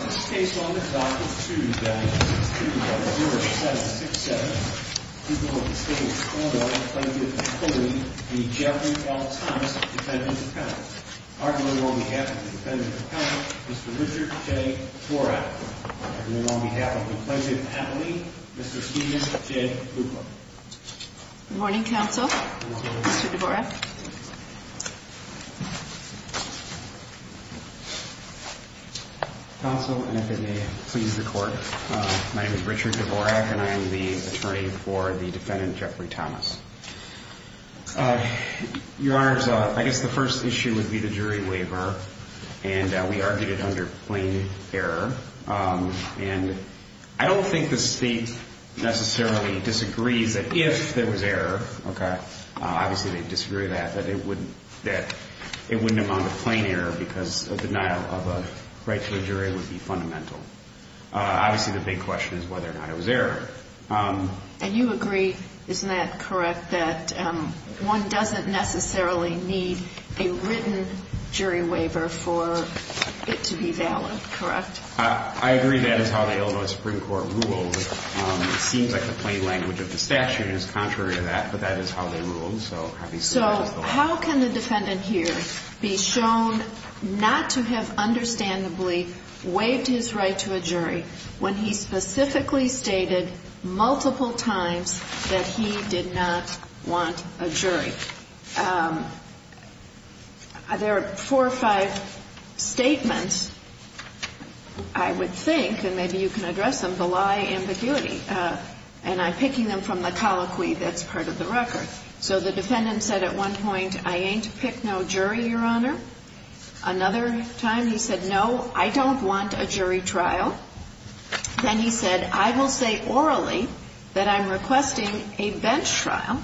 On this case on the docket 2-9-6-2-0-0-7-6-7, the people of the state of Colville, Appalachia, and Cleveland need Jeffrey L. Thomas, Defendant Appellant. Arguably on behalf of the Defendant Appellant, Mr. Richard J. Dvorak. And then on behalf of the Appalachian family, Mr. Stephen J. Cooper. Good morning, Counsel. Good morning. Mr. Dvorak. Counsel, and if it may please the Court, my name is Richard Dvorak and I am the attorney for the Defendant Jeffrey Thomas. Your Honors, I guess the first issue would be the jury waiver. And we argued it under plain error. And I don't think the state necessarily disagrees that if there was error, obviously they'd disagree with that, that it wouldn't amount to plain error because a denial of a right to a jury would be fundamental. Obviously the big question is whether or not it was error. And you agree, isn't that correct, that one doesn't necessarily need a written jury waiver for it to be valid, correct? I agree that is how the Illinois Supreme Court ruled. It seems like the plain language of the statute is contrary to that, but that is how they ruled. So how can the defendant here be shown not to have understandably waived his right to a jury when he specifically stated multiple times that he did not want a jury? There are four or five statements, I would think, and maybe you can address them, and I'm picking them from the colloquy that's part of the record. So the defendant said at one point, I ain't pick no jury, Your Honor. Another time he said, no, I don't want a jury trial. Then he said, I will say orally that I'm requesting a bench trial.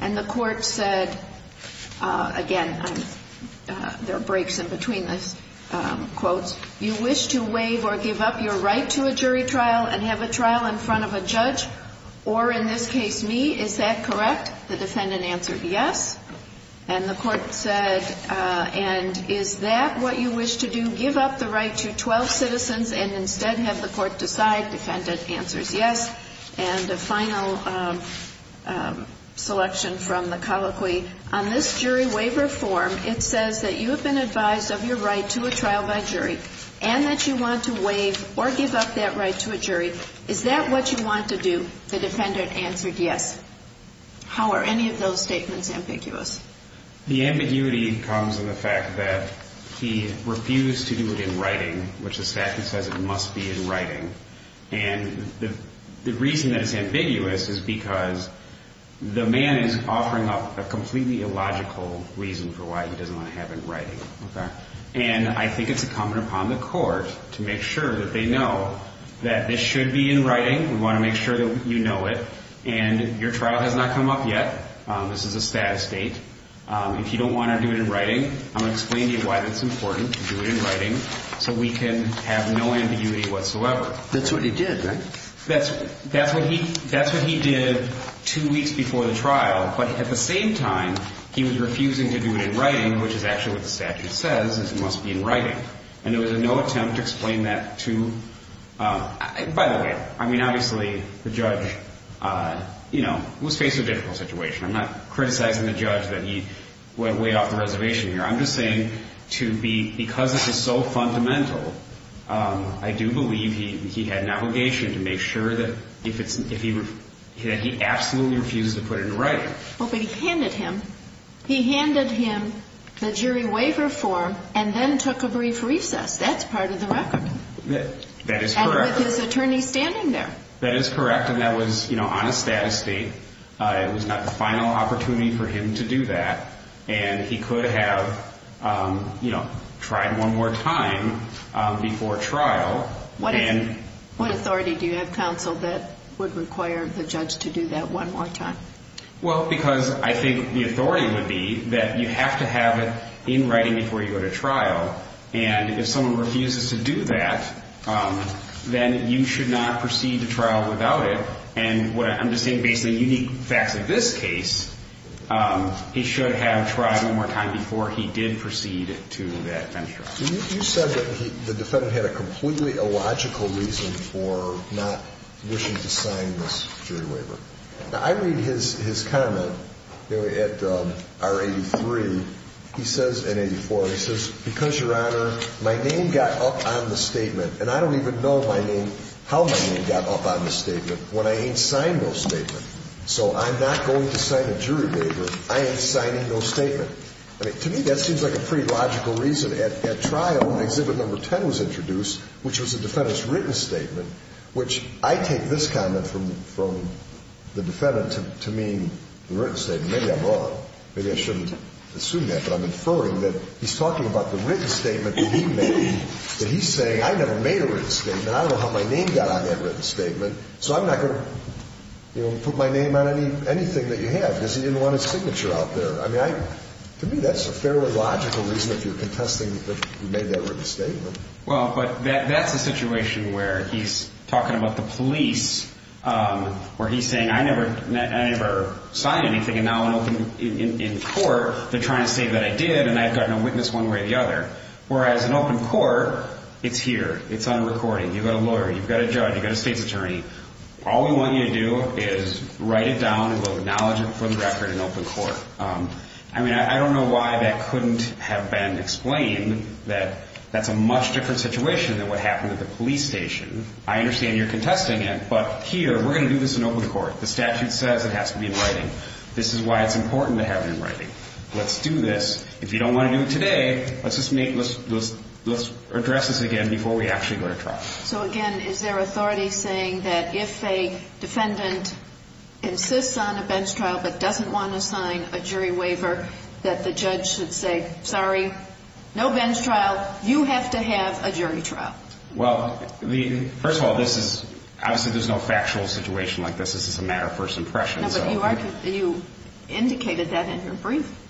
And the court said, again, there are breaks in between the quotes, you wish to waive or give up your right to a jury trial and have a trial in front of a judge, or in this case me, is that correct? The defendant answered yes. And the court said, and is that what you wish to do, give up the right to 12 citizens and instead have the court decide? The defendant answers yes. And the final selection from the colloquy, on this jury waiver form, it says that you have been advised of your right to a trial by jury and that you want to waive or give up that right to a jury. Is that what you want to do? The defendant answered yes. How are any of those statements ambiguous? The ambiguity comes in the fact that he refused to do it in writing, which the statute says it must be in writing. And the reason that it's ambiguous is because the man is offering up a completely illogical reason for why he doesn't want to have it in writing. And I think it's incumbent upon the court to make sure that they know that this should be in writing. We want to make sure that you know it. And your trial has not come up yet. This is a status date. If you don't want to do it in writing, I'm going to explain to you why it's important to do it in writing so we can have no ambiguity whatsoever. That's what he did, right? That's what he did two weeks before the trial. But at the same time, he was refusing to do it in writing, which is actually what the statute says it must be in writing. And there was no attempt to explain that to by the way. I mean, obviously, the judge, you know, was faced with a difficult situation. I'm not criticizing the judge that he went way off the reservation here. I'm just saying because this is so fundamental, I do believe he had an obligation to make sure that he absolutely refused to put it in writing. But he handed him the jury waiver form and then took a brief recess. That's part of the record. That is correct. And with his attorney standing there. That is correct, and that was, you know, on a status date. It was not the final opportunity for him to do that. And he could have, you know, tried one more time before trial. What authority do you have, counsel, that would require the judge to do that one more time? Well, because I think the authority would be that you have to have it in writing before you go to trial. And if someone refuses to do that, then you should not proceed to trial without it. And what I'm just saying, based on unique facts in this case, he should have tried one more time before he did proceed to that venture. You said that the defendant had a completely illogical reason for not wishing to sign this jury waiver. Now, I read his comment at R83. He says in 84, he says, because, Your Honor, my name got up on the statement, and I don't even know my name, how my name got up on the statement when I ain't signed no statement. So I'm not going to sign a jury waiver. I ain't signing no statement. I mean, to me, that seems like a pretty logical reason. At trial, Exhibit Number 10 was introduced, which was the defendant's written statement, which I take this comment from the defendant to mean the written statement. Maybe I'm wrong. Maybe I shouldn't assume that, but I'm inferring that he's talking about the written statement that he made, that he's saying, I never made a written statement. I don't know how my name got on that written statement, so I'm not going to put my name on anything that you have, because he didn't want his signature out there. I mean, to me, that's a fairly logical reason if you're contesting that he made that written statement. Well, but that's a situation where he's talking about the police, where he's saying, I never signed anything, and now in court, they're trying to say that I did, and I've gotten a witness one way or the other. Whereas in open court, it's here. It's on recording. You've got a lawyer. You've got a judge. You've got a state's attorney. All we want you to do is write it down, and we'll acknowledge it for the record in open court. I mean, I don't know why that couldn't have been explained, that that's a much different situation than what happened at the police station. I understand you're contesting it, but here, we're going to do this in open court. The statute says it has to be in writing. This is why it's important to have it in writing. Let's do this. If you don't want to do it today, let's address this again before we actually go to trial. So, again, is there authority saying that if a defendant insists on a bench trial but doesn't want to sign a jury waiver, that the judge should say, sorry, no bench trial, you have to have a jury trial? Well, first of all, obviously there's no factual situation like this. This is a matter of first impression. No, but you indicated that in your brief.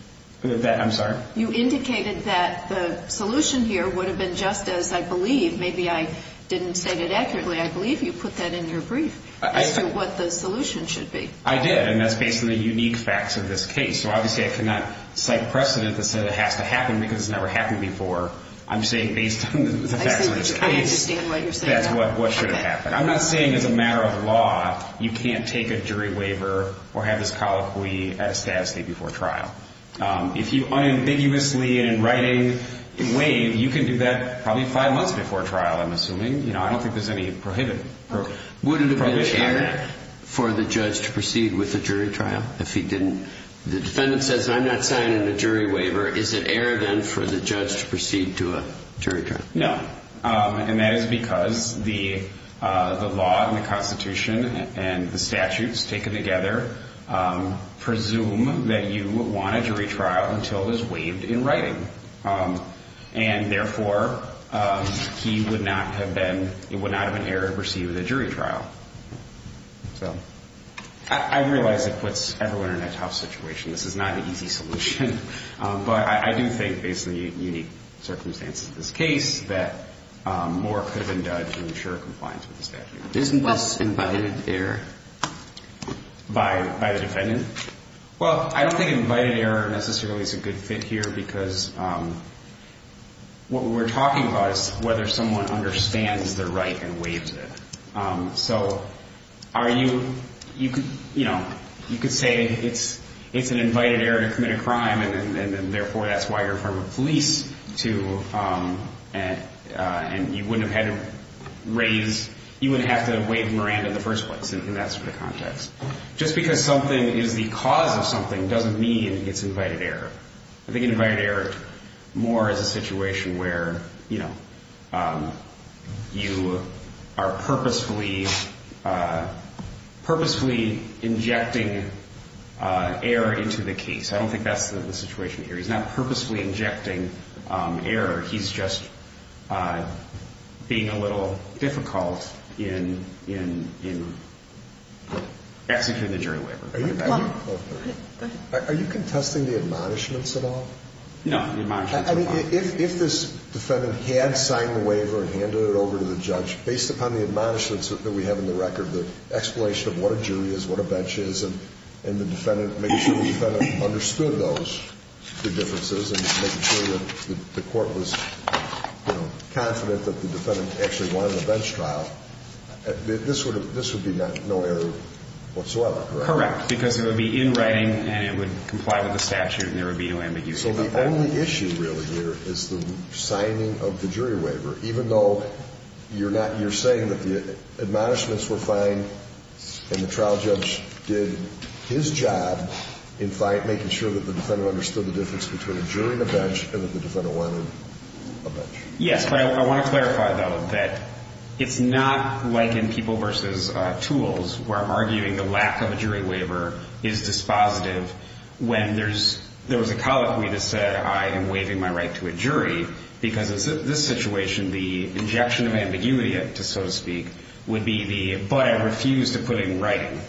I'm sorry? You indicated that the solution here would have been just as I believe, maybe I didn't state it accurately, I believe you put that in your brief as to what the solution should be. I did, and that's based on the unique facts of this case. So obviously I cannot cite precedent that said it has to happen because it's never happened before. I'm saying based on the facts of this case, that's what should have happened. I'm not saying as a matter of law you can't take a jury waiver or have this colloquy at a status date before trial. If you unambiguously in writing waive, you can do that probably five months before trial, I'm assuming. I don't think there's any prohibition on that. Would it have been an error for the judge to proceed with a jury trial if he didn't? The defendant says I'm not signing a jury waiver. Is it error then for the judge to proceed to a jury trial? No. And that is because the law and the Constitution and the statutes taken together presume that you want a jury trial until it is waived in writing. And therefore, he would not have been, he would not have been error to proceed with a jury trial. I realize it puts everyone in a tough situation. This is not an easy solution. But I do think, based on the unique circumstances of this case, that more could have been done to ensure compliance with the statute. Isn't this invited error? By the defendant? Well, I don't think invited error necessarily is a good fit here because what we're talking about is whether someone understands they're right and waives it. So are you, you know, you could say it's an invited error to commit a crime and therefore that's why you're in front of the police to, and you wouldn't have had to raise, you wouldn't have to have waived Miranda in the first place. And that's the context. Just because something is the cause of something doesn't mean it's invited error. I think invited error more is a situation where, you know, you are purposefully injecting error into the case. I don't think that's the situation here. He's not purposefully injecting error. He's just being a little difficult in executing the jury labor. Are you contesting the admonishments at all? No. I mean, if this defendant had signed the waiver and handed it over to the judge, based upon the admonishments that we have in the record, the explanation of what a jury is, what a bench is, and the defendant, making sure the defendant understood those, the differences, and making sure that the court was, you know, confident that the defendant actually won the bench trial, this would be no error whatsoever, correct? Correct. Because it would be in writing and it would comply with the statute and there would be no ambiguity about that. So the only issue really here is the signing of the jury waiver, even though you're saying that the admonishments were fine and the trial judge did his job in making sure that the defendant understood the difference between a jury and a bench and that the defendant won a bench. Yes. But I want to clarify, though, that it's not like in people versus tools where I'm arguing the lack of a jury waiver is dispositive when there was a colloquy that said, I am waiving my right to a jury, because in this situation, the injection of ambiguity, so to speak, would be the, but I refuse to put it in writing.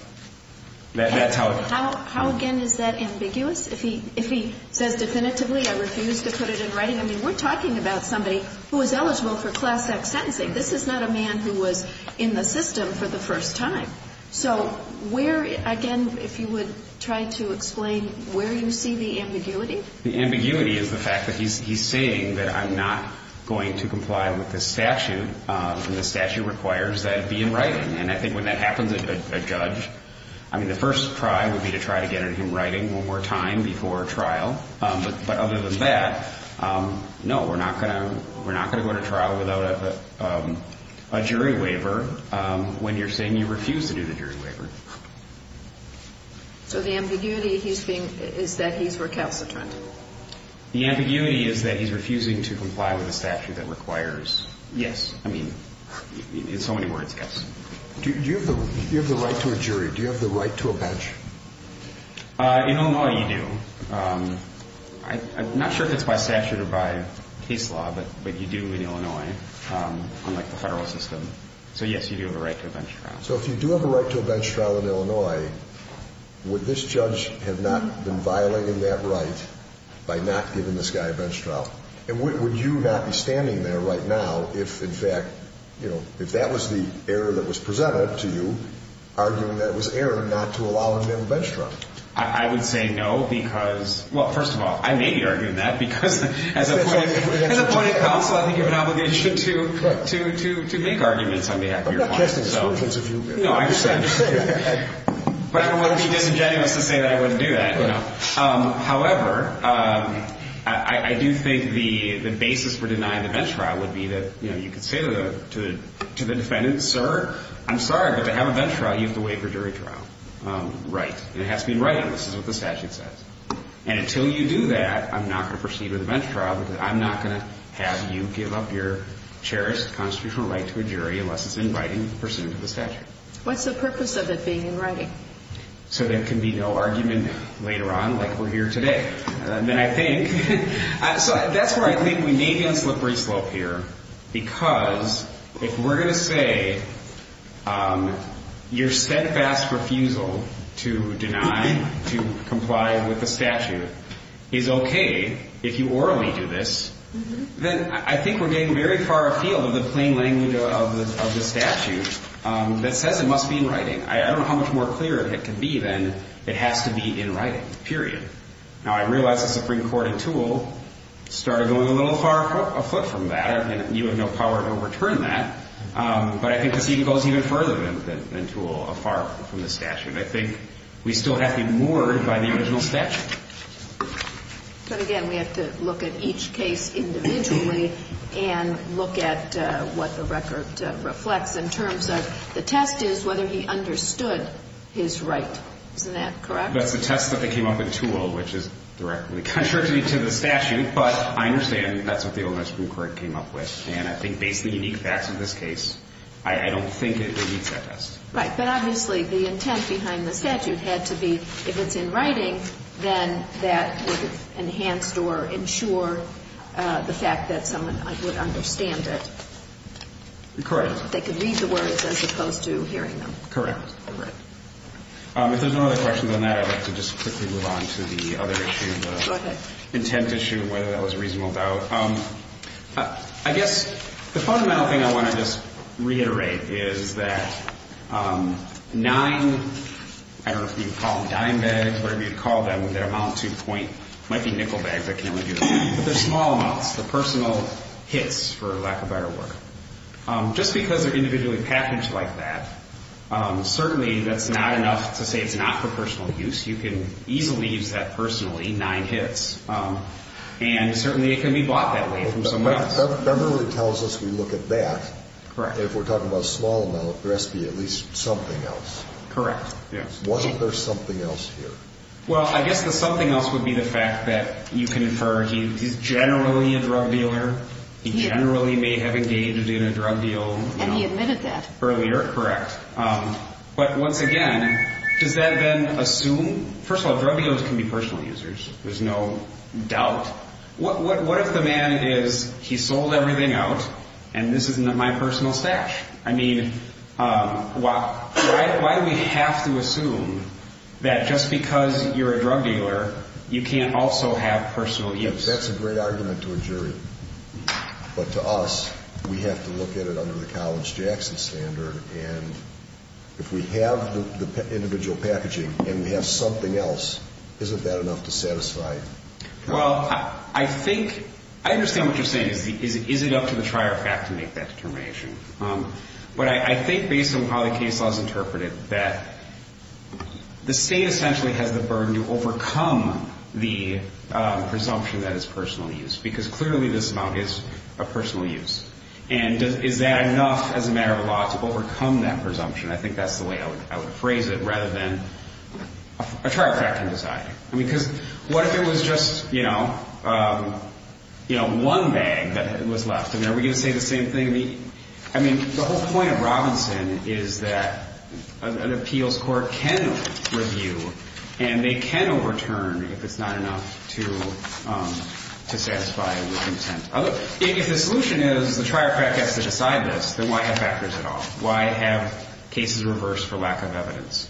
How, again, is that ambiguous? If he says definitively, I refuse to put it in writing, I mean, we're talking about somebody who is eligible for Class X sentencing. This is not a man who was in the system for the first time. So where, again, if you would try to explain where you see the ambiguity? The ambiguity is the fact that he's saying that I'm not going to comply with this statute, and the statute requires that it be in writing. And I think when that happens, a judge, I mean, the first try would be to try to get him writing one more time before a trial. But other than that, no, we're not going to go to trial without a jury waiver when you're saying you refuse to do the jury waiver. So the ambiguity is that he's recalcitrant. The ambiguity is that he's refusing to comply with a statute that requires, yes, I mean, in so many words, yes. Do you have the right to a jury? Do you have the right to a badge? In Illinois, you do. I'm not sure if it's by statute or by case law, but you do in Illinois, unlike the federal system. So, yes, you do have a right to a bench trial. So if you do have a right to a bench trial in Illinois, would this judge have not been violating that right by not giving this guy a bench trial? And would you not be standing there right now if, in fact, if that was the error that was presented to you, arguing that it was error not to allow him to have a bench trial? I would say no because, well, first of all, I may be arguing that because as a point of view, as a counsel, I think you have an obligation to make arguments on behalf of your clients. But not just exclusions, if you will. No, I understand. But I wouldn't be disingenuous to say that I wouldn't do that. However, I do think the basis for denying the bench trial would be that, you know, you could say to the defendant, sir, I'm sorry, but to have a bench trial, you have to wait for jury trial. Right. And it has to be in writing. This is what the statute says. And until you do that, I'm not going to proceed with a bench trial because I'm not going to have you give up your cherished constitutional right to a jury unless it's in writing and pursuant to the statute. What's the purpose of it being in writing? So there can be no argument later on like we're here today. Then I think, so that's where I think we may be on a slippery slope here because if we're going to say your steadfast refusal to deny, to comply with the statute, is okay if you orally do this, then I think we're getting very far afield of the plain language of the statute that says it must be in writing. I don't know how much more clear it can be than it has to be in writing, period. Now, I realize the Supreme Court and Toole started going a little far afoot from that, and you have no power to overturn that. But I think the scene goes even further than Toole, afar from the statute. And I think we still have to be moored by the original statute. But again, we have to look at each case individually and look at what the record reflects in terms of the test is whether he understood his right. Isn't that correct? That's the test that they came up with Toole, which is directly contrary to the statute, but I understand that's what the old Supreme Court came up with. And I think based on the unique facts of this case, I don't think it meets that test. Right. But obviously, the intent behind the statute had to be if it's in writing, then that would have enhanced or ensure the fact that someone would understand it. Correct. They could read the words as opposed to hearing them. Correct. All right. If there's no other questions on that, I'd like to just quickly move on to the other issue. Okay. The intent issue, whether that was reasonable doubt. I guess the fundamental thing I want to just reiterate is that nine, I don't know if you'd call them dime bags, whatever you'd call them with their amount to point, might be nickel bags. I can't really do the math. But they're small amounts, the personal hits for lack of better word. Just because they're individually packaged like that, certainly that's not enough to say it's not for personal use. You can easily use that personally, nine hits. And certainly it can be bought that way from somebody else. Beverly tells us we look at that. Correct. If we're talking about a small amount, there has to be at least something else. Correct. Wasn't there something else here? Well, I guess the something else would be the fact that you can infer he's generally a drug dealer. He generally may have engaged in a drug deal. And he admitted that. Earlier, correct. But once again, does that then assume? First of all, drug dealers can be personal users. There's no doubt. What if the man is, he sold everything out, and this isn't my personal stash? I mean, why do we have to assume that just because you're a drug dealer, you can't also have personal use? That's a great argument to a jury. But to us, we have to look at it under the College Jackson standard. And if we have the individual packaging and we have something else, isn't that enough to satisfy? Well, I think, I understand what you're saying, is it up to the trier of fact to make that determination. But I think based on how the case law is interpreted, that the state essentially has the burden to overcome the presumption that it's personal use. Because clearly this amount is a personal use. And is that enough as a matter of law to overcome that presumption? I think that's the way I would phrase it, rather than a trier of fact can decide. I mean, because what if it was just, you know, one bag that was left? I mean, are we going to say the same thing? I mean, the whole point of Robinson is that an appeals court can review, and they can overturn if it's not enough to satisfy the intent. If the solution is the trier of fact has to decide this, then why have factors at all? Why have cases reversed for lack of evidence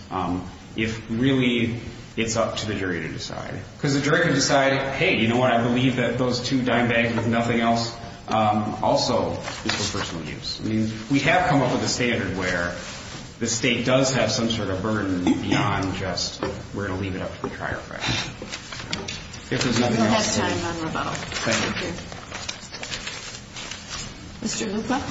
if really it's up to the jury to decide? Because the jury can decide, hey, you know what, I believe that those two dime bags with nothing else also is for personal use. I mean, we have come up with a standard where the state does have some sort of burden beyond just we're going to leave it up to the trier of fact. If there's nothing else. We don't have time on rebuttal. Thank you. Mr. Lupa?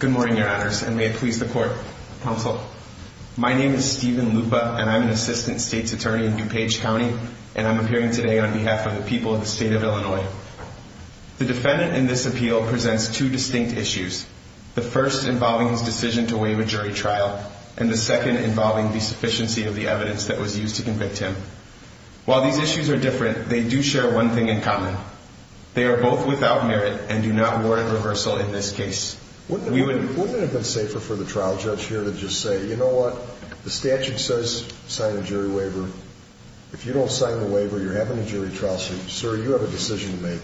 Good morning, Your Honors, and may it please the court, counsel. My name is Stephen Lupa, and I'm an assistant state's attorney in DuPage County, and I'm appearing today on behalf of the people of the state of Illinois. The defendant in this appeal presents two distinct issues, the first involving his decision to waive a jury trial, and the second involving the sufficiency of the evidence that was used to convict him. While these issues are different, they do share one thing in common. They are both without merit and do not warrant reversal in this case. Wouldn't it have been safer for the trial judge here to just say, you know what, the statute says sign a jury waiver. If you don't sign the waiver, you're having a jury trial, sir, you have a decision to make,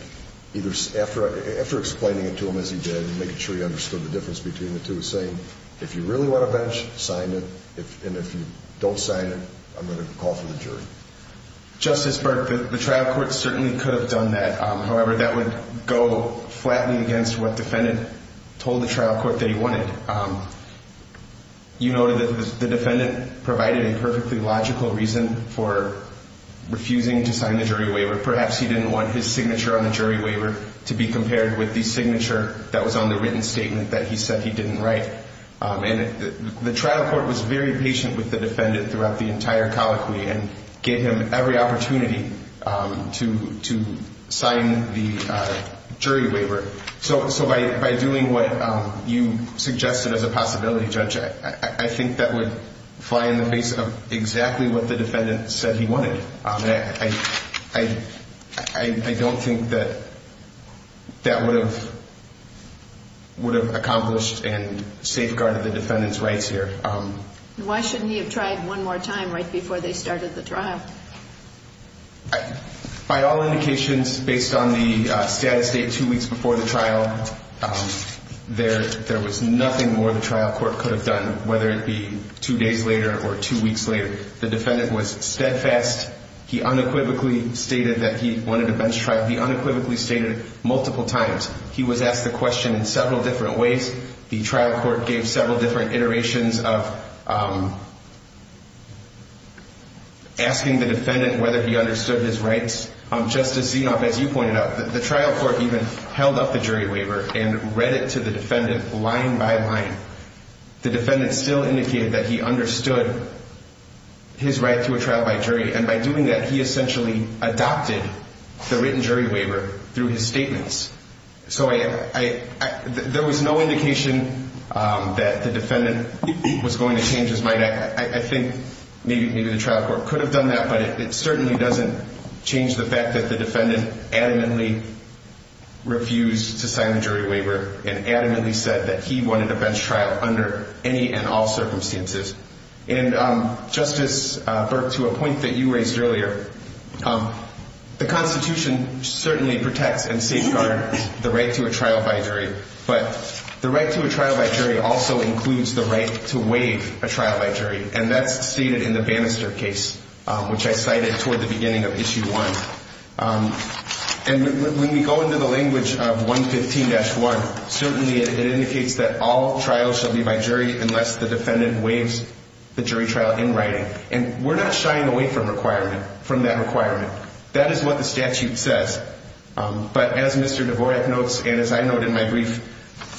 either after explaining it to him as he did and making sure he understood the difference between the two, saying if you really want a bench, sign it, and if you don't sign it, I'm going to call for the jury. Justice Burke, the trial court certainly could have done that. However, that would go flatly against what the defendant told the trial court that he wanted. You noted that the defendant provided a perfectly logical reason for refusing to sign the jury waiver. Perhaps he didn't want his signature on the jury waiver to be compared with the signature that was on the written statement that he said he didn't write. The trial court was very patient with the defendant throughout the entire colloquy and gave him every opportunity to sign the jury waiver. So by doing what you suggested as a possibility, Judge, I think that would fly in the face of exactly what the defendant said he wanted. I don't think that that would have accomplished and safeguarded the defendant's rights here. Why shouldn't he have tried one more time right before they started the trial? By all indications, based on the status date two weeks before the trial, there was nothing more the trial court could have done, whether it be two days later or two weeks later. The defendant was steadfast. He unequivocally stated that he wanted to bench-try. He unequivocally stated it multiple times. He was asked the question in several different ways. The trial court gave several different iterations of asking the defendant whether he understood his rights. Justice Zenob, as you pointed out, the trial court even held up the jury waiver and read it to the defendant line by line. The defendant still indicated that he understood his right to a trial by jury, and by doing that, he essentially adopted the written jury waiver through his statements. So there was no indication that the defendant was going to change his mind. I think maybe the trial court could have done that, but it certainly doesn't change the fact that the defendant adamantly refused to sign the jury waiver and adamantly said that he wanted a bench trial under any and all circumstances. And, Justice Burke, to a point that you raised earlier, the Constitution certainly protects and safeguards the right to a trial by jury, but the right to a trial by jury also includes the right to waive a trial by jury, and that's stated in the Bannister case, which I cited toward the beginning of Issue 1. And when we go into the language of 115-1, certainly it indicates that all trials shall be by jury unless the defendant waives the jury trial in writing. And we're not shying away from that requirement. That is what the statute says. But as Mr. Dvorak notes and as I note in my brief,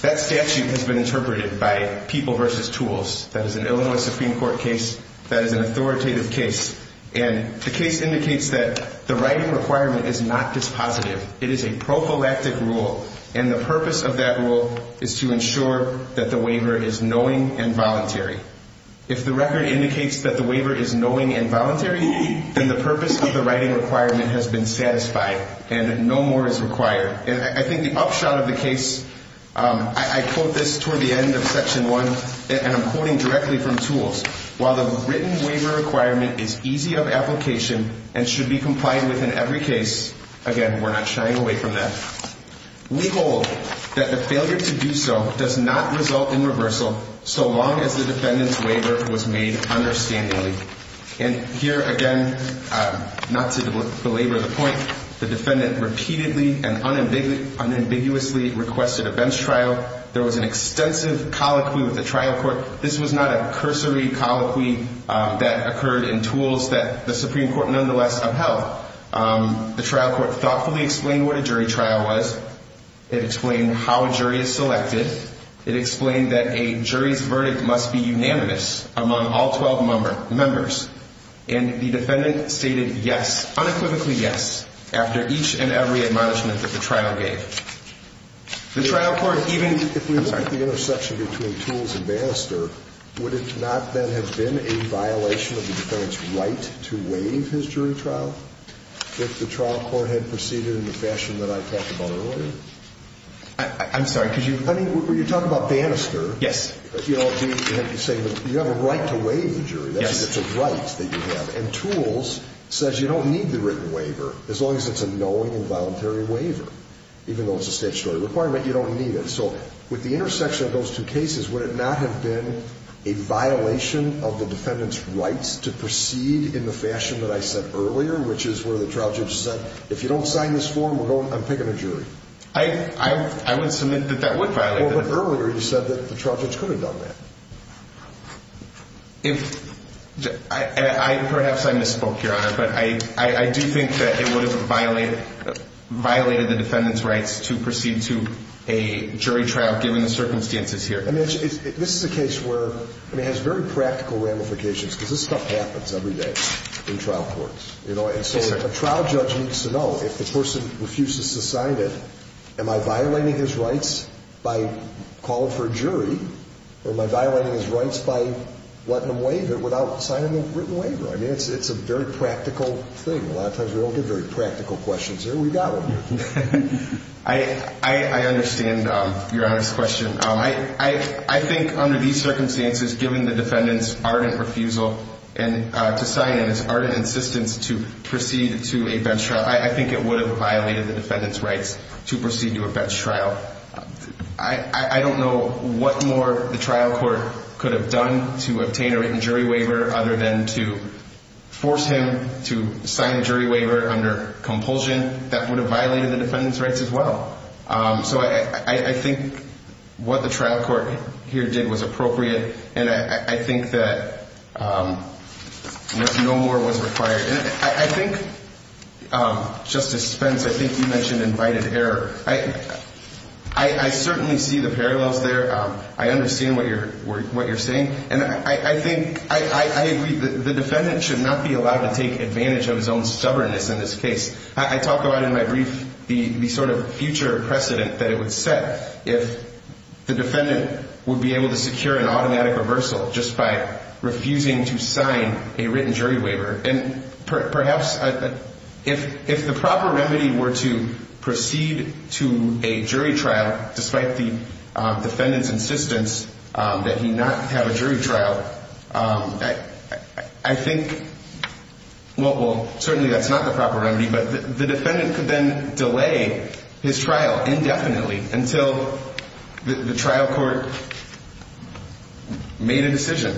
that statute has been interpreted by people versus tools. That is an Illinois Supreme Court case. That is an authoritative case. And the case indicates that the writing requirement is not dispositive. It is a prophylactic rule, and the purpose of that rule is to ensure that the waiver is knowing and voluntary. If the record indicates that the waiver is knowing and voluntary, then the purpose of the writing requirement has been satisfied and no more is required. And I think the upshot of the case, I quote this toward the end of Section 1, and I'm quoting directly from tools. While the written waiver requirement is easy of application and should be complied with in every case, again, we're not shying away from that. We hold that the failure to do so does not result in reversal so long as the defendant's waiver was made understandably. And here, again, not to belabor the point, the defendant repeatedly and unambiguously requested a bench trial. There was an extensive colloquy with the trial court. This was not a cursory colloquy that occurred in tools that the Supreme Court nonetheless upheld. The trial court thoughtfully explained what a jury trial was. It explained how a jury is selected. It explained that a jury's verdict must be unanimous among all 12 members. And the defendant stated yes, unequivocally yes, after each and every admonishment that the trial gave. If we look at the intersection between tools and Bannister, would it not then have been a violation of the defendant's right to waive his jury trial? If the trial court had proceeded in the fashion that I talked about earlier? I'm sorry, could you? I mean, when you talk about Bannister. Yes. You have a right to waive the jury. Yes. That's a right that you have. And tools says you don't need the written waiver, as long as it's a knowing and voluntary waiver. Even though it's a statutory requirement, you don't need it. So with the intersection of those two cases, would it not have been a violation of the defendant's rights to proceed in the fashion that I said earlier? Which is where the trial judge said, if you don't sign this form, I'm picking a jury. I would submit that that would violate that. Well, but earlier you said that the trial judge could have done that. Perhaps I misspoke, Your Honor, but I do think that it would have violated the defendant's rights to proceed to a jury trial, given the circumstances here. This is a case where it has very practical ramifications, because this stuff happens every day in trial courts. So a trial judge needs to know, if the person refuses to sign it, am I violating his rights by calling for a jury? Or am I violating his rights by letting him waive it without signing a written waiver? I mean, it's a very practical thing. A lot of times we don't get very practical questions here. We've got one. I understand, Your Honor's question. I think under these circumstances, given the defendant's ardent refusal to sign it, his ardent insistence to proceed to a bench trial, I think it would have violated the defendant's rights to proceed to a bench trial. I don't know what more the trial court could have done to obtain a written jury waiver other than to force him to sign a jury waiver under compulsion. That would have violated the defendant's rights as well. So I think what the trial court here did was appropriate. And I think that no more was required. And I think, Justice Spence, I think you mentioned invited error. I certainly see the parallels there. I understand what you're saying. And I think, I agree, the defendant should not be allowed to take advantage of his own stubbornness in this case. I talk about in my brief the sort of future precedent that it would set if the defendant would be able to secure an automatic reversal just by refusing to sign a written jury waiver. And perhaps if the proper remedy were to proceed to a jury trial, despite the defendant's insistence that he not have a jury trial, I think, well, certainly that's not the proper remedy, but the defendant could then delay his trial indefinitely until the trial court made a decision.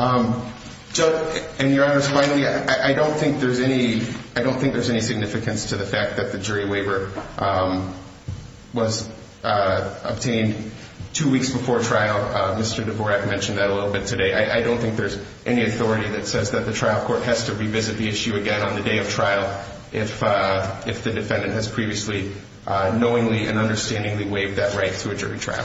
And, Your Honor, finally, I don't think there's any significance to the fact that the jury waiver was obtained two weeks before trial. Mr. Dvorak mentioned that a little bit today. I don't think there's any authority that says that the trial court has to revisit the issue again on the day of trial if the defendant has previously knowingly and understandingly waived that right to a jury trial.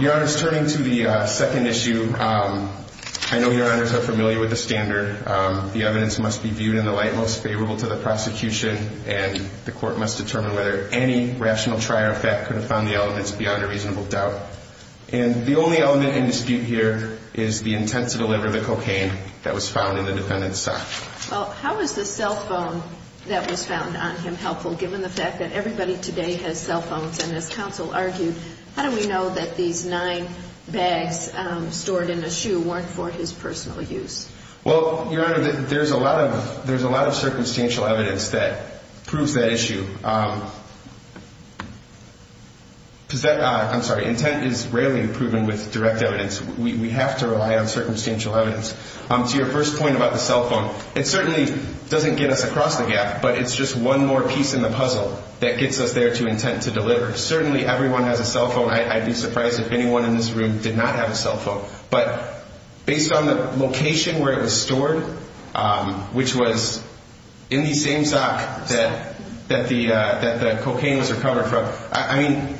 Your Honor, turning to the second issue, I know Your Honors are familiar with the standard. The evidence must be viewed in the light most favorable to the prosecution, and the court must determine whether any rational trier effect could have found the elements beyond a reasonable doubt. And the only element in dispute here is the intent to deliver the cocaine that was found in the defendant's sock. Well, how is the cell phone that was found on him helpful, given the fact that everybody today has cell phones? And as counsel argued, how do we know that these nine bags stored in a shoe weren't for his personal use? Well, Your Honor, there's a lot of circumstantial evidence that proves that issue. I'm sorry, intent is rarely proven with direct evidence. We have to rely on circumstantial evidence. To your first point about the cell phone, it certainly doesn't get us across the gap, but it's just one more piece in the puzzle that gets us there to intent to deliver. Certainly, everyone has a cell phone. I'd be surprised if anyone in this room did not have a cell phone. But based on the location where it was stored, which was in the same sock that the cocaine was recovered from, I mean,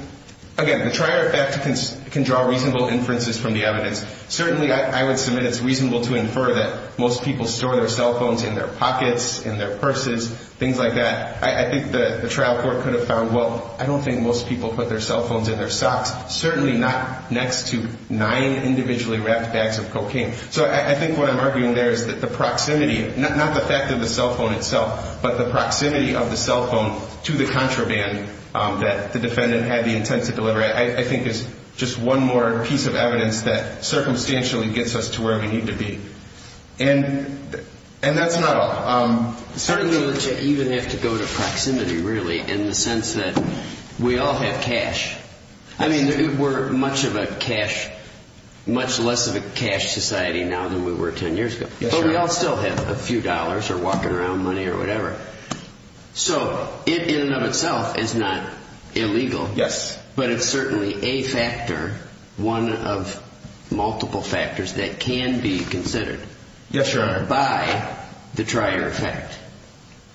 again, the trier effect can draw reasonable inferences from the evidence. Certainly, I would submit it's reasonable to infer that most people store their cell phones in their pockets, in their purses, things like that. I think the trial court could have found, well, I don't think most people put their cell phones in their socks. Certainly not next to nine individually wrapped bags of cocaine. So I think what I'm arguing there is that the proximity, not the fact of the cell phone itself, but the proximity of the cell phone to the contraband that the defendant had the intent to deliver, I think is just one more piece of evidence that circumstantially gets us to where we need to be. And that's not all. Certainly, you even have to go to proximity, really, in the sense that we all have cash. I mean, we're much less of a cash society now than we were 10 years ago. But we all still have a few dollars or walking around money or whatever. So it in and of itself is not illegal. Yes. But it's certainly a factor, one of multiple factors that can be considered. Yes, Your Honor. By the trier effect.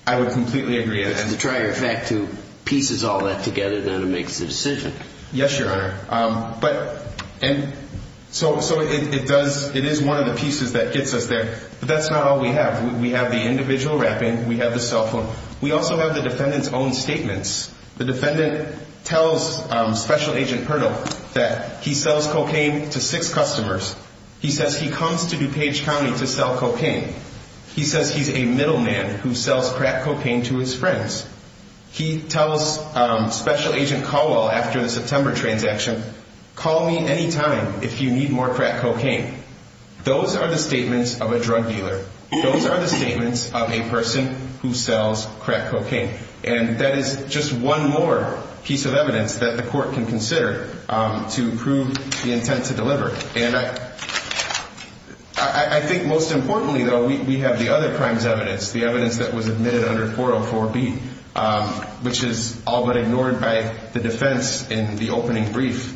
I would completely agree. It's the trier effect who pieces all that together, then it makes the decision. Yes, Your Honor. So it is one of the pieces that gets us there. But that's not all we have. We have the individual wrapping. We have the cell phone. We also have the defendant's own statements. The defendant tells Special Agent Pirtle that he sells cocaine to six customers. He says he comes to DuPage County to sell cocaine. He says he's a middleman who sells crack cocaine to his friends. He tells Special Agent Caldwell, after the September transaction, call me any time if you need more crack cocaine. Those are the statements of a drug dealer. Those are the statements of a person who sells crack cocaine. And that is just one more piece of evidence that the court can consider to prove the intent to deliver. And I think most importantly, though, we have the other crimes evidence, the evidence that was admitted under 404B, which is all but ignored by the defense in the opening brief.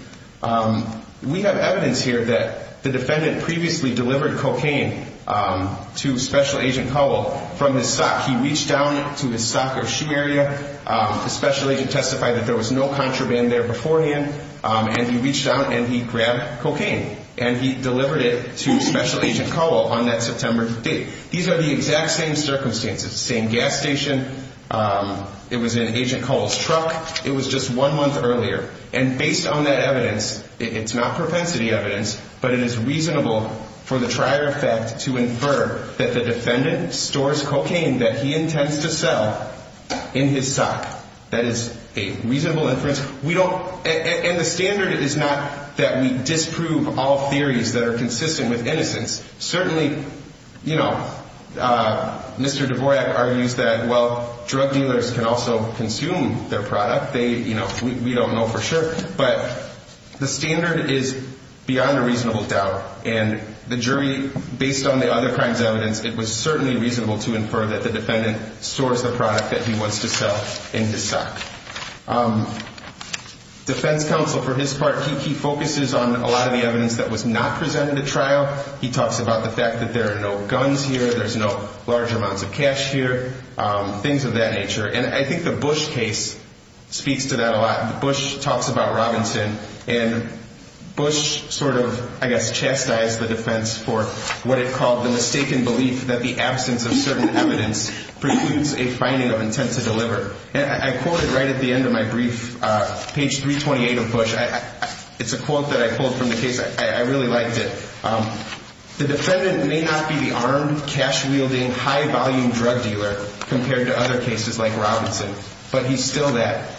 We have evidence here that the defendant previously delivered cocaine to Special Agent Caldwell from his sock. He reached down to his sock or shoe area. The special agent testified that there was no contraband there beforehand. And he reached out and he grabbed cocaine. And he delivered it to Special Agent Caldwell on that September date. These are the exact same circumstances, same gas station. It was in Agent Caldwell's truck. It was just one month earlier. And based on that evidence, it's not propensity evidence, but it is reasonable for the trier effect to infer that the defendant stores cocaine that he intends to sell in his sock. That is a reasonable inference. And the standard is not that we disprove all theories that are consistent with innocence. Certainly, you know, Mr. Dvorak argues that, well, drug dealers can also consume their product. We don't know for sure. But the standard is beyond a reasonable doubt. And the jury, based on the other crimes evidence, it was certainly reasonable to infer that the defendant stores the product that he wants to sell in his sock. Defense counsel, for his part, he focuses on a lot of the evidence that was not presented at trial. He talks about the fact that there are no guns here, there's no large amounts of cash here, things of that nature. Bush talks about Robinson, and Bush sort of, I guess, chastised the defense for what it called the mistaken belief that the absence of certain evidence precludes a finding of intent to deliver. And I quote it right at the end of my brief, page 328 of Bush. It's a quote that I pulled from the case. I really liked it. The defendant may not be the armed, cash-wielding, high-volume drug dealer compared to other cases like Robinson, but he's still that.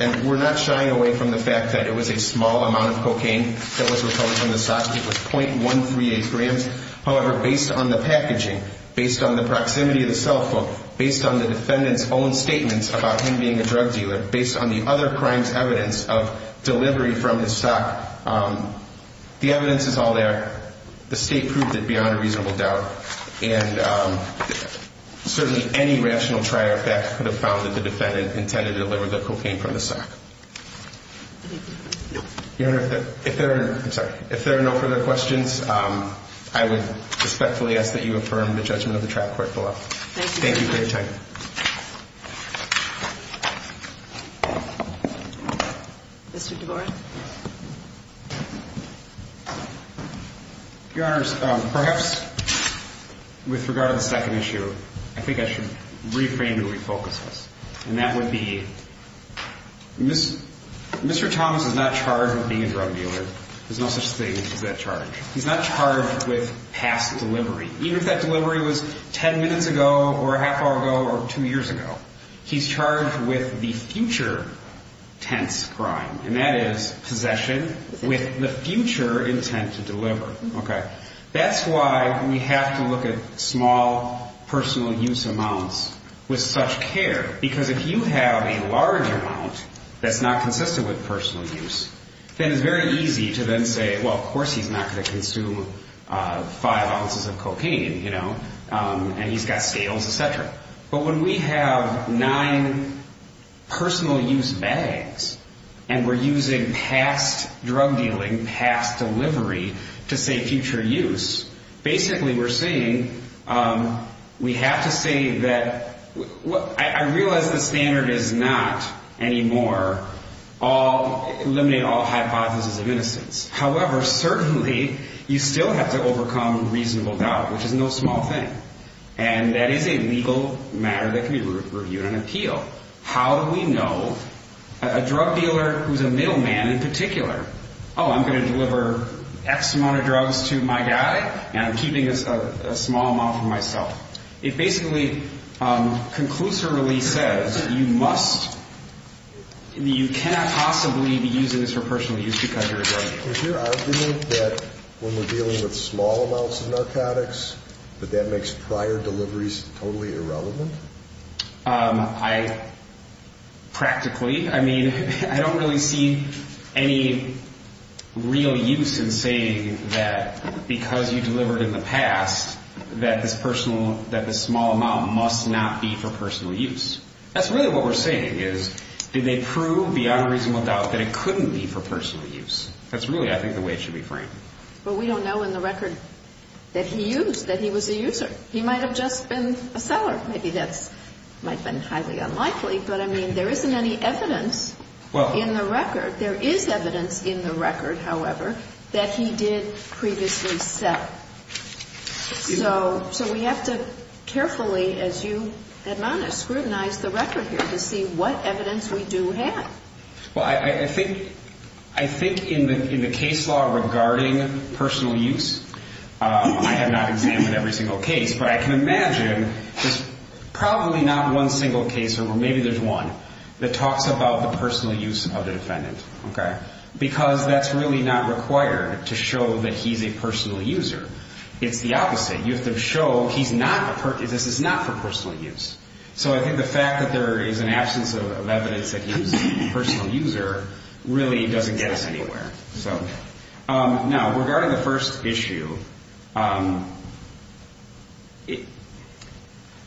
And we're not shying away from the fact that it was a small amount of cocaine that was recovered from the sock. It was .138 grams. However, based on the packaging, based on the proximity of the cell phone, based on the defendant's own statements about him being a drug dealer, based on the other crimes evidence of delivery from his sock, the evidence is all there. The state proved it beyond a reasonable doubt. And certainly any rational trier of facts could have found that the defendant intended to deliver the cocaine from the sock. Your Honor, if there are no further questions, I would respectfully ask that you affirm the judgment of the trial court below. Thank you. Thank you for your time. Mr. DeGora. Your Honors, perhaps with regard to the second issue, I think I should reframe and refocus this. And that would be Mr. Thomas is not charged with being a drug dealer. There's no such thing as that charge. He's not charged with past delivery, even if that delivery was ten minutes ago or a half hour ago or two years ago. He's charged with the future tense crime, and that is possession with the future intent to deliver. Okay. That's why we have to look at small personal use amounts with such care, because if you have a large amount that's not consistent with personal use, then it's very easy to then say, well, of course he's not going to consume five ounces of cocaine, you know, and he's got scales, et cetera. But when we have nine personal use bags and we're using past drug dealing, past delivery to say future use, basically we're saying we have to say that I realize the standard is not anymore eliminate all hypotheses of innocence. However, certainly you still have to overcome reasonable doubt, which is no small thing. And that is a legal matter that can be reviewed on appeal. How do we know a drug dealer who's a middleman in particular? Oh, I'm going to deliver X amount of drugs to my guy, and I'm keeping a small amount for myself. It basically conclusively says you must, you cannot possibly be using this for personal use because you're a drug dealer. Is your argument that when we're dealing with small amounts of narcotics, that that makes prior deliveries totally irrelevant? I practically, I mean, I don't really see any real use in saying that because you delivered in the past that this personal, that the small amount must not be for personal use. That's really what we're saying is, did they prove beyond reasonable doubt that it couldn't be for personal use? That's really, I think, the way it should be framed. Well, we don't know in the record that he used, that he was a user. He might have just been a seller. Maybe that's, might have been highly unlikely, but I mean, there isn't any evidence in the record. There is evidence in the record, however, that he did previously sell. So we have to carefully, as you admonish, scrutinize the record here to see what evidence we do have. Well, I think, I think in the case law regarding personal use, I have not examined every single case, but I can imagine there's probably not one single case, or maybe there's one, that talks about the personal use of the defendant. Okay. Because that's really not required to show that he's a personal user. It's the opposite. You have to show he's not, this is not for personal use. So I think the fact that there is an absence of evidence that he was a personal user really doesn't get us anywhere. So, now, regarding the first issue,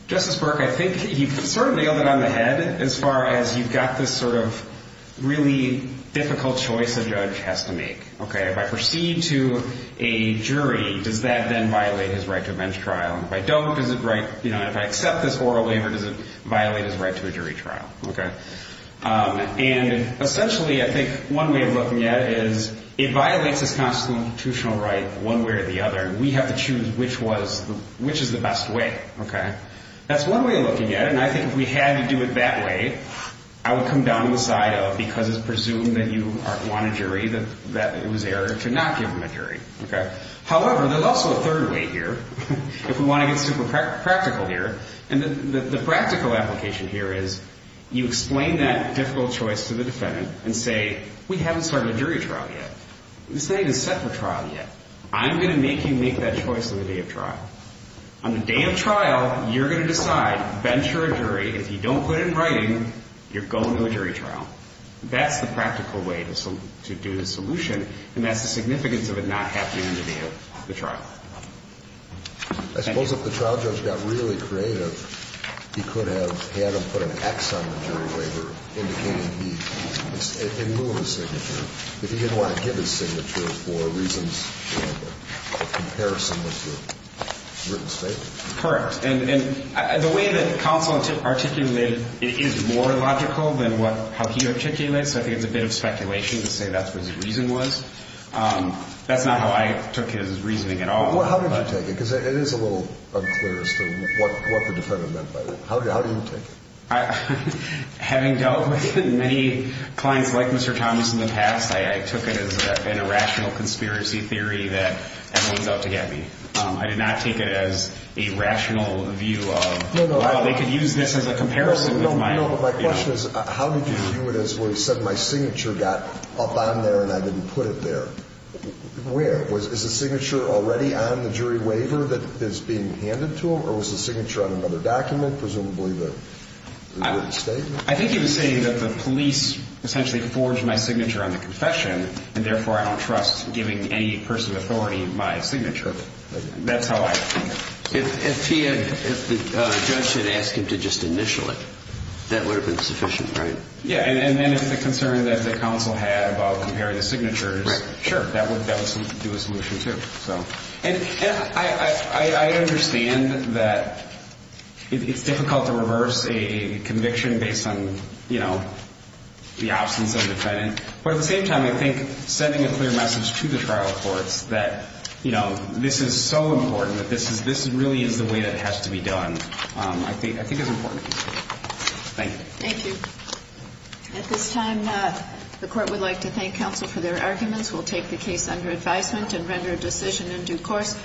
Justice Burke, I think he sort of nailed it on the head, as far as you've got this sort of really difficult choice a judge has to make. Okay, if I proceed to a jury, does that then violate his right to a bench trial? If I don't, is it right, you know, if I accept this oral waiver, does it violate his right to a jury trial? Okay. And essentially, I think one way of looking at it is it violates his constitutional right one way or the other, and we have to choose which is the best way. Okay. That's one way of looking at it, and I think if we had to do it that way, I would come down to the side of because it's presumed that you want a jury, that it was error to not give him a jury. Okay. However, there's also a third way here, if we want to get super practical here, and the practical application here is you explain that difficult choice to the defendant and say, we haven't started a jury trial yet. This thing isn't set for trial yet. I'm going to make you make that choice on the day of trial. On the day of trial, you're going to decide, bench or a jury, if you don't put it in writing, you're going to a jury trial. That's the practical way to do the solution, and that's the significance of it not happening on the day of the trial. Thank you. I suppose if the trial judge got really creative, he could have had him put an X on the jury waiver indicating he didn't move his signature, that he didn't want to give his signature for reasons of comparison with the written statement. Correct. The way that counsel articulated it is more logical than how he articulated it, so I think it's a bit of speculation to say that's what his reason was. That's not how I took his reasoning at all. How did you take it? Because it is a little unclear as to what the defendant meant by that. How did you take it? Having dealt with many clients like Mr. Thomas in the past, I took it as an irrational conspiracy theory that everyone's out to get me. I did not take it as a rational view of, well, they could use this as a comparison. No, but my question is how did you view it as where he said my signature got up on there and I didn't put it there? Where? Is the signature already on the jury waiver that is being handed to him, or was the signature on another document, presumably the written statement? I think he was saying that the police essentially forged my signature on the confession, and therefore I don't trust giving any person authority my signature. That's how I took it. If the judge had asked him to just initial it, that would have been sufficient, right? Yeah, and then if the concern that the counsel had about comparing the signatures, sure, that would do a solution too. And I understand that it's difficult to reverse a conviction based on, you know, the absence of a defendant, but at the same time, I think sending a clear message to the trial courts that, you know, this is so important, that this really is the way that it has to be done, I think is important. Thank you. Thank you. At this time, the Court would like to thank counsel for their arguments. We'll take the case under advisement and render a decision in due course.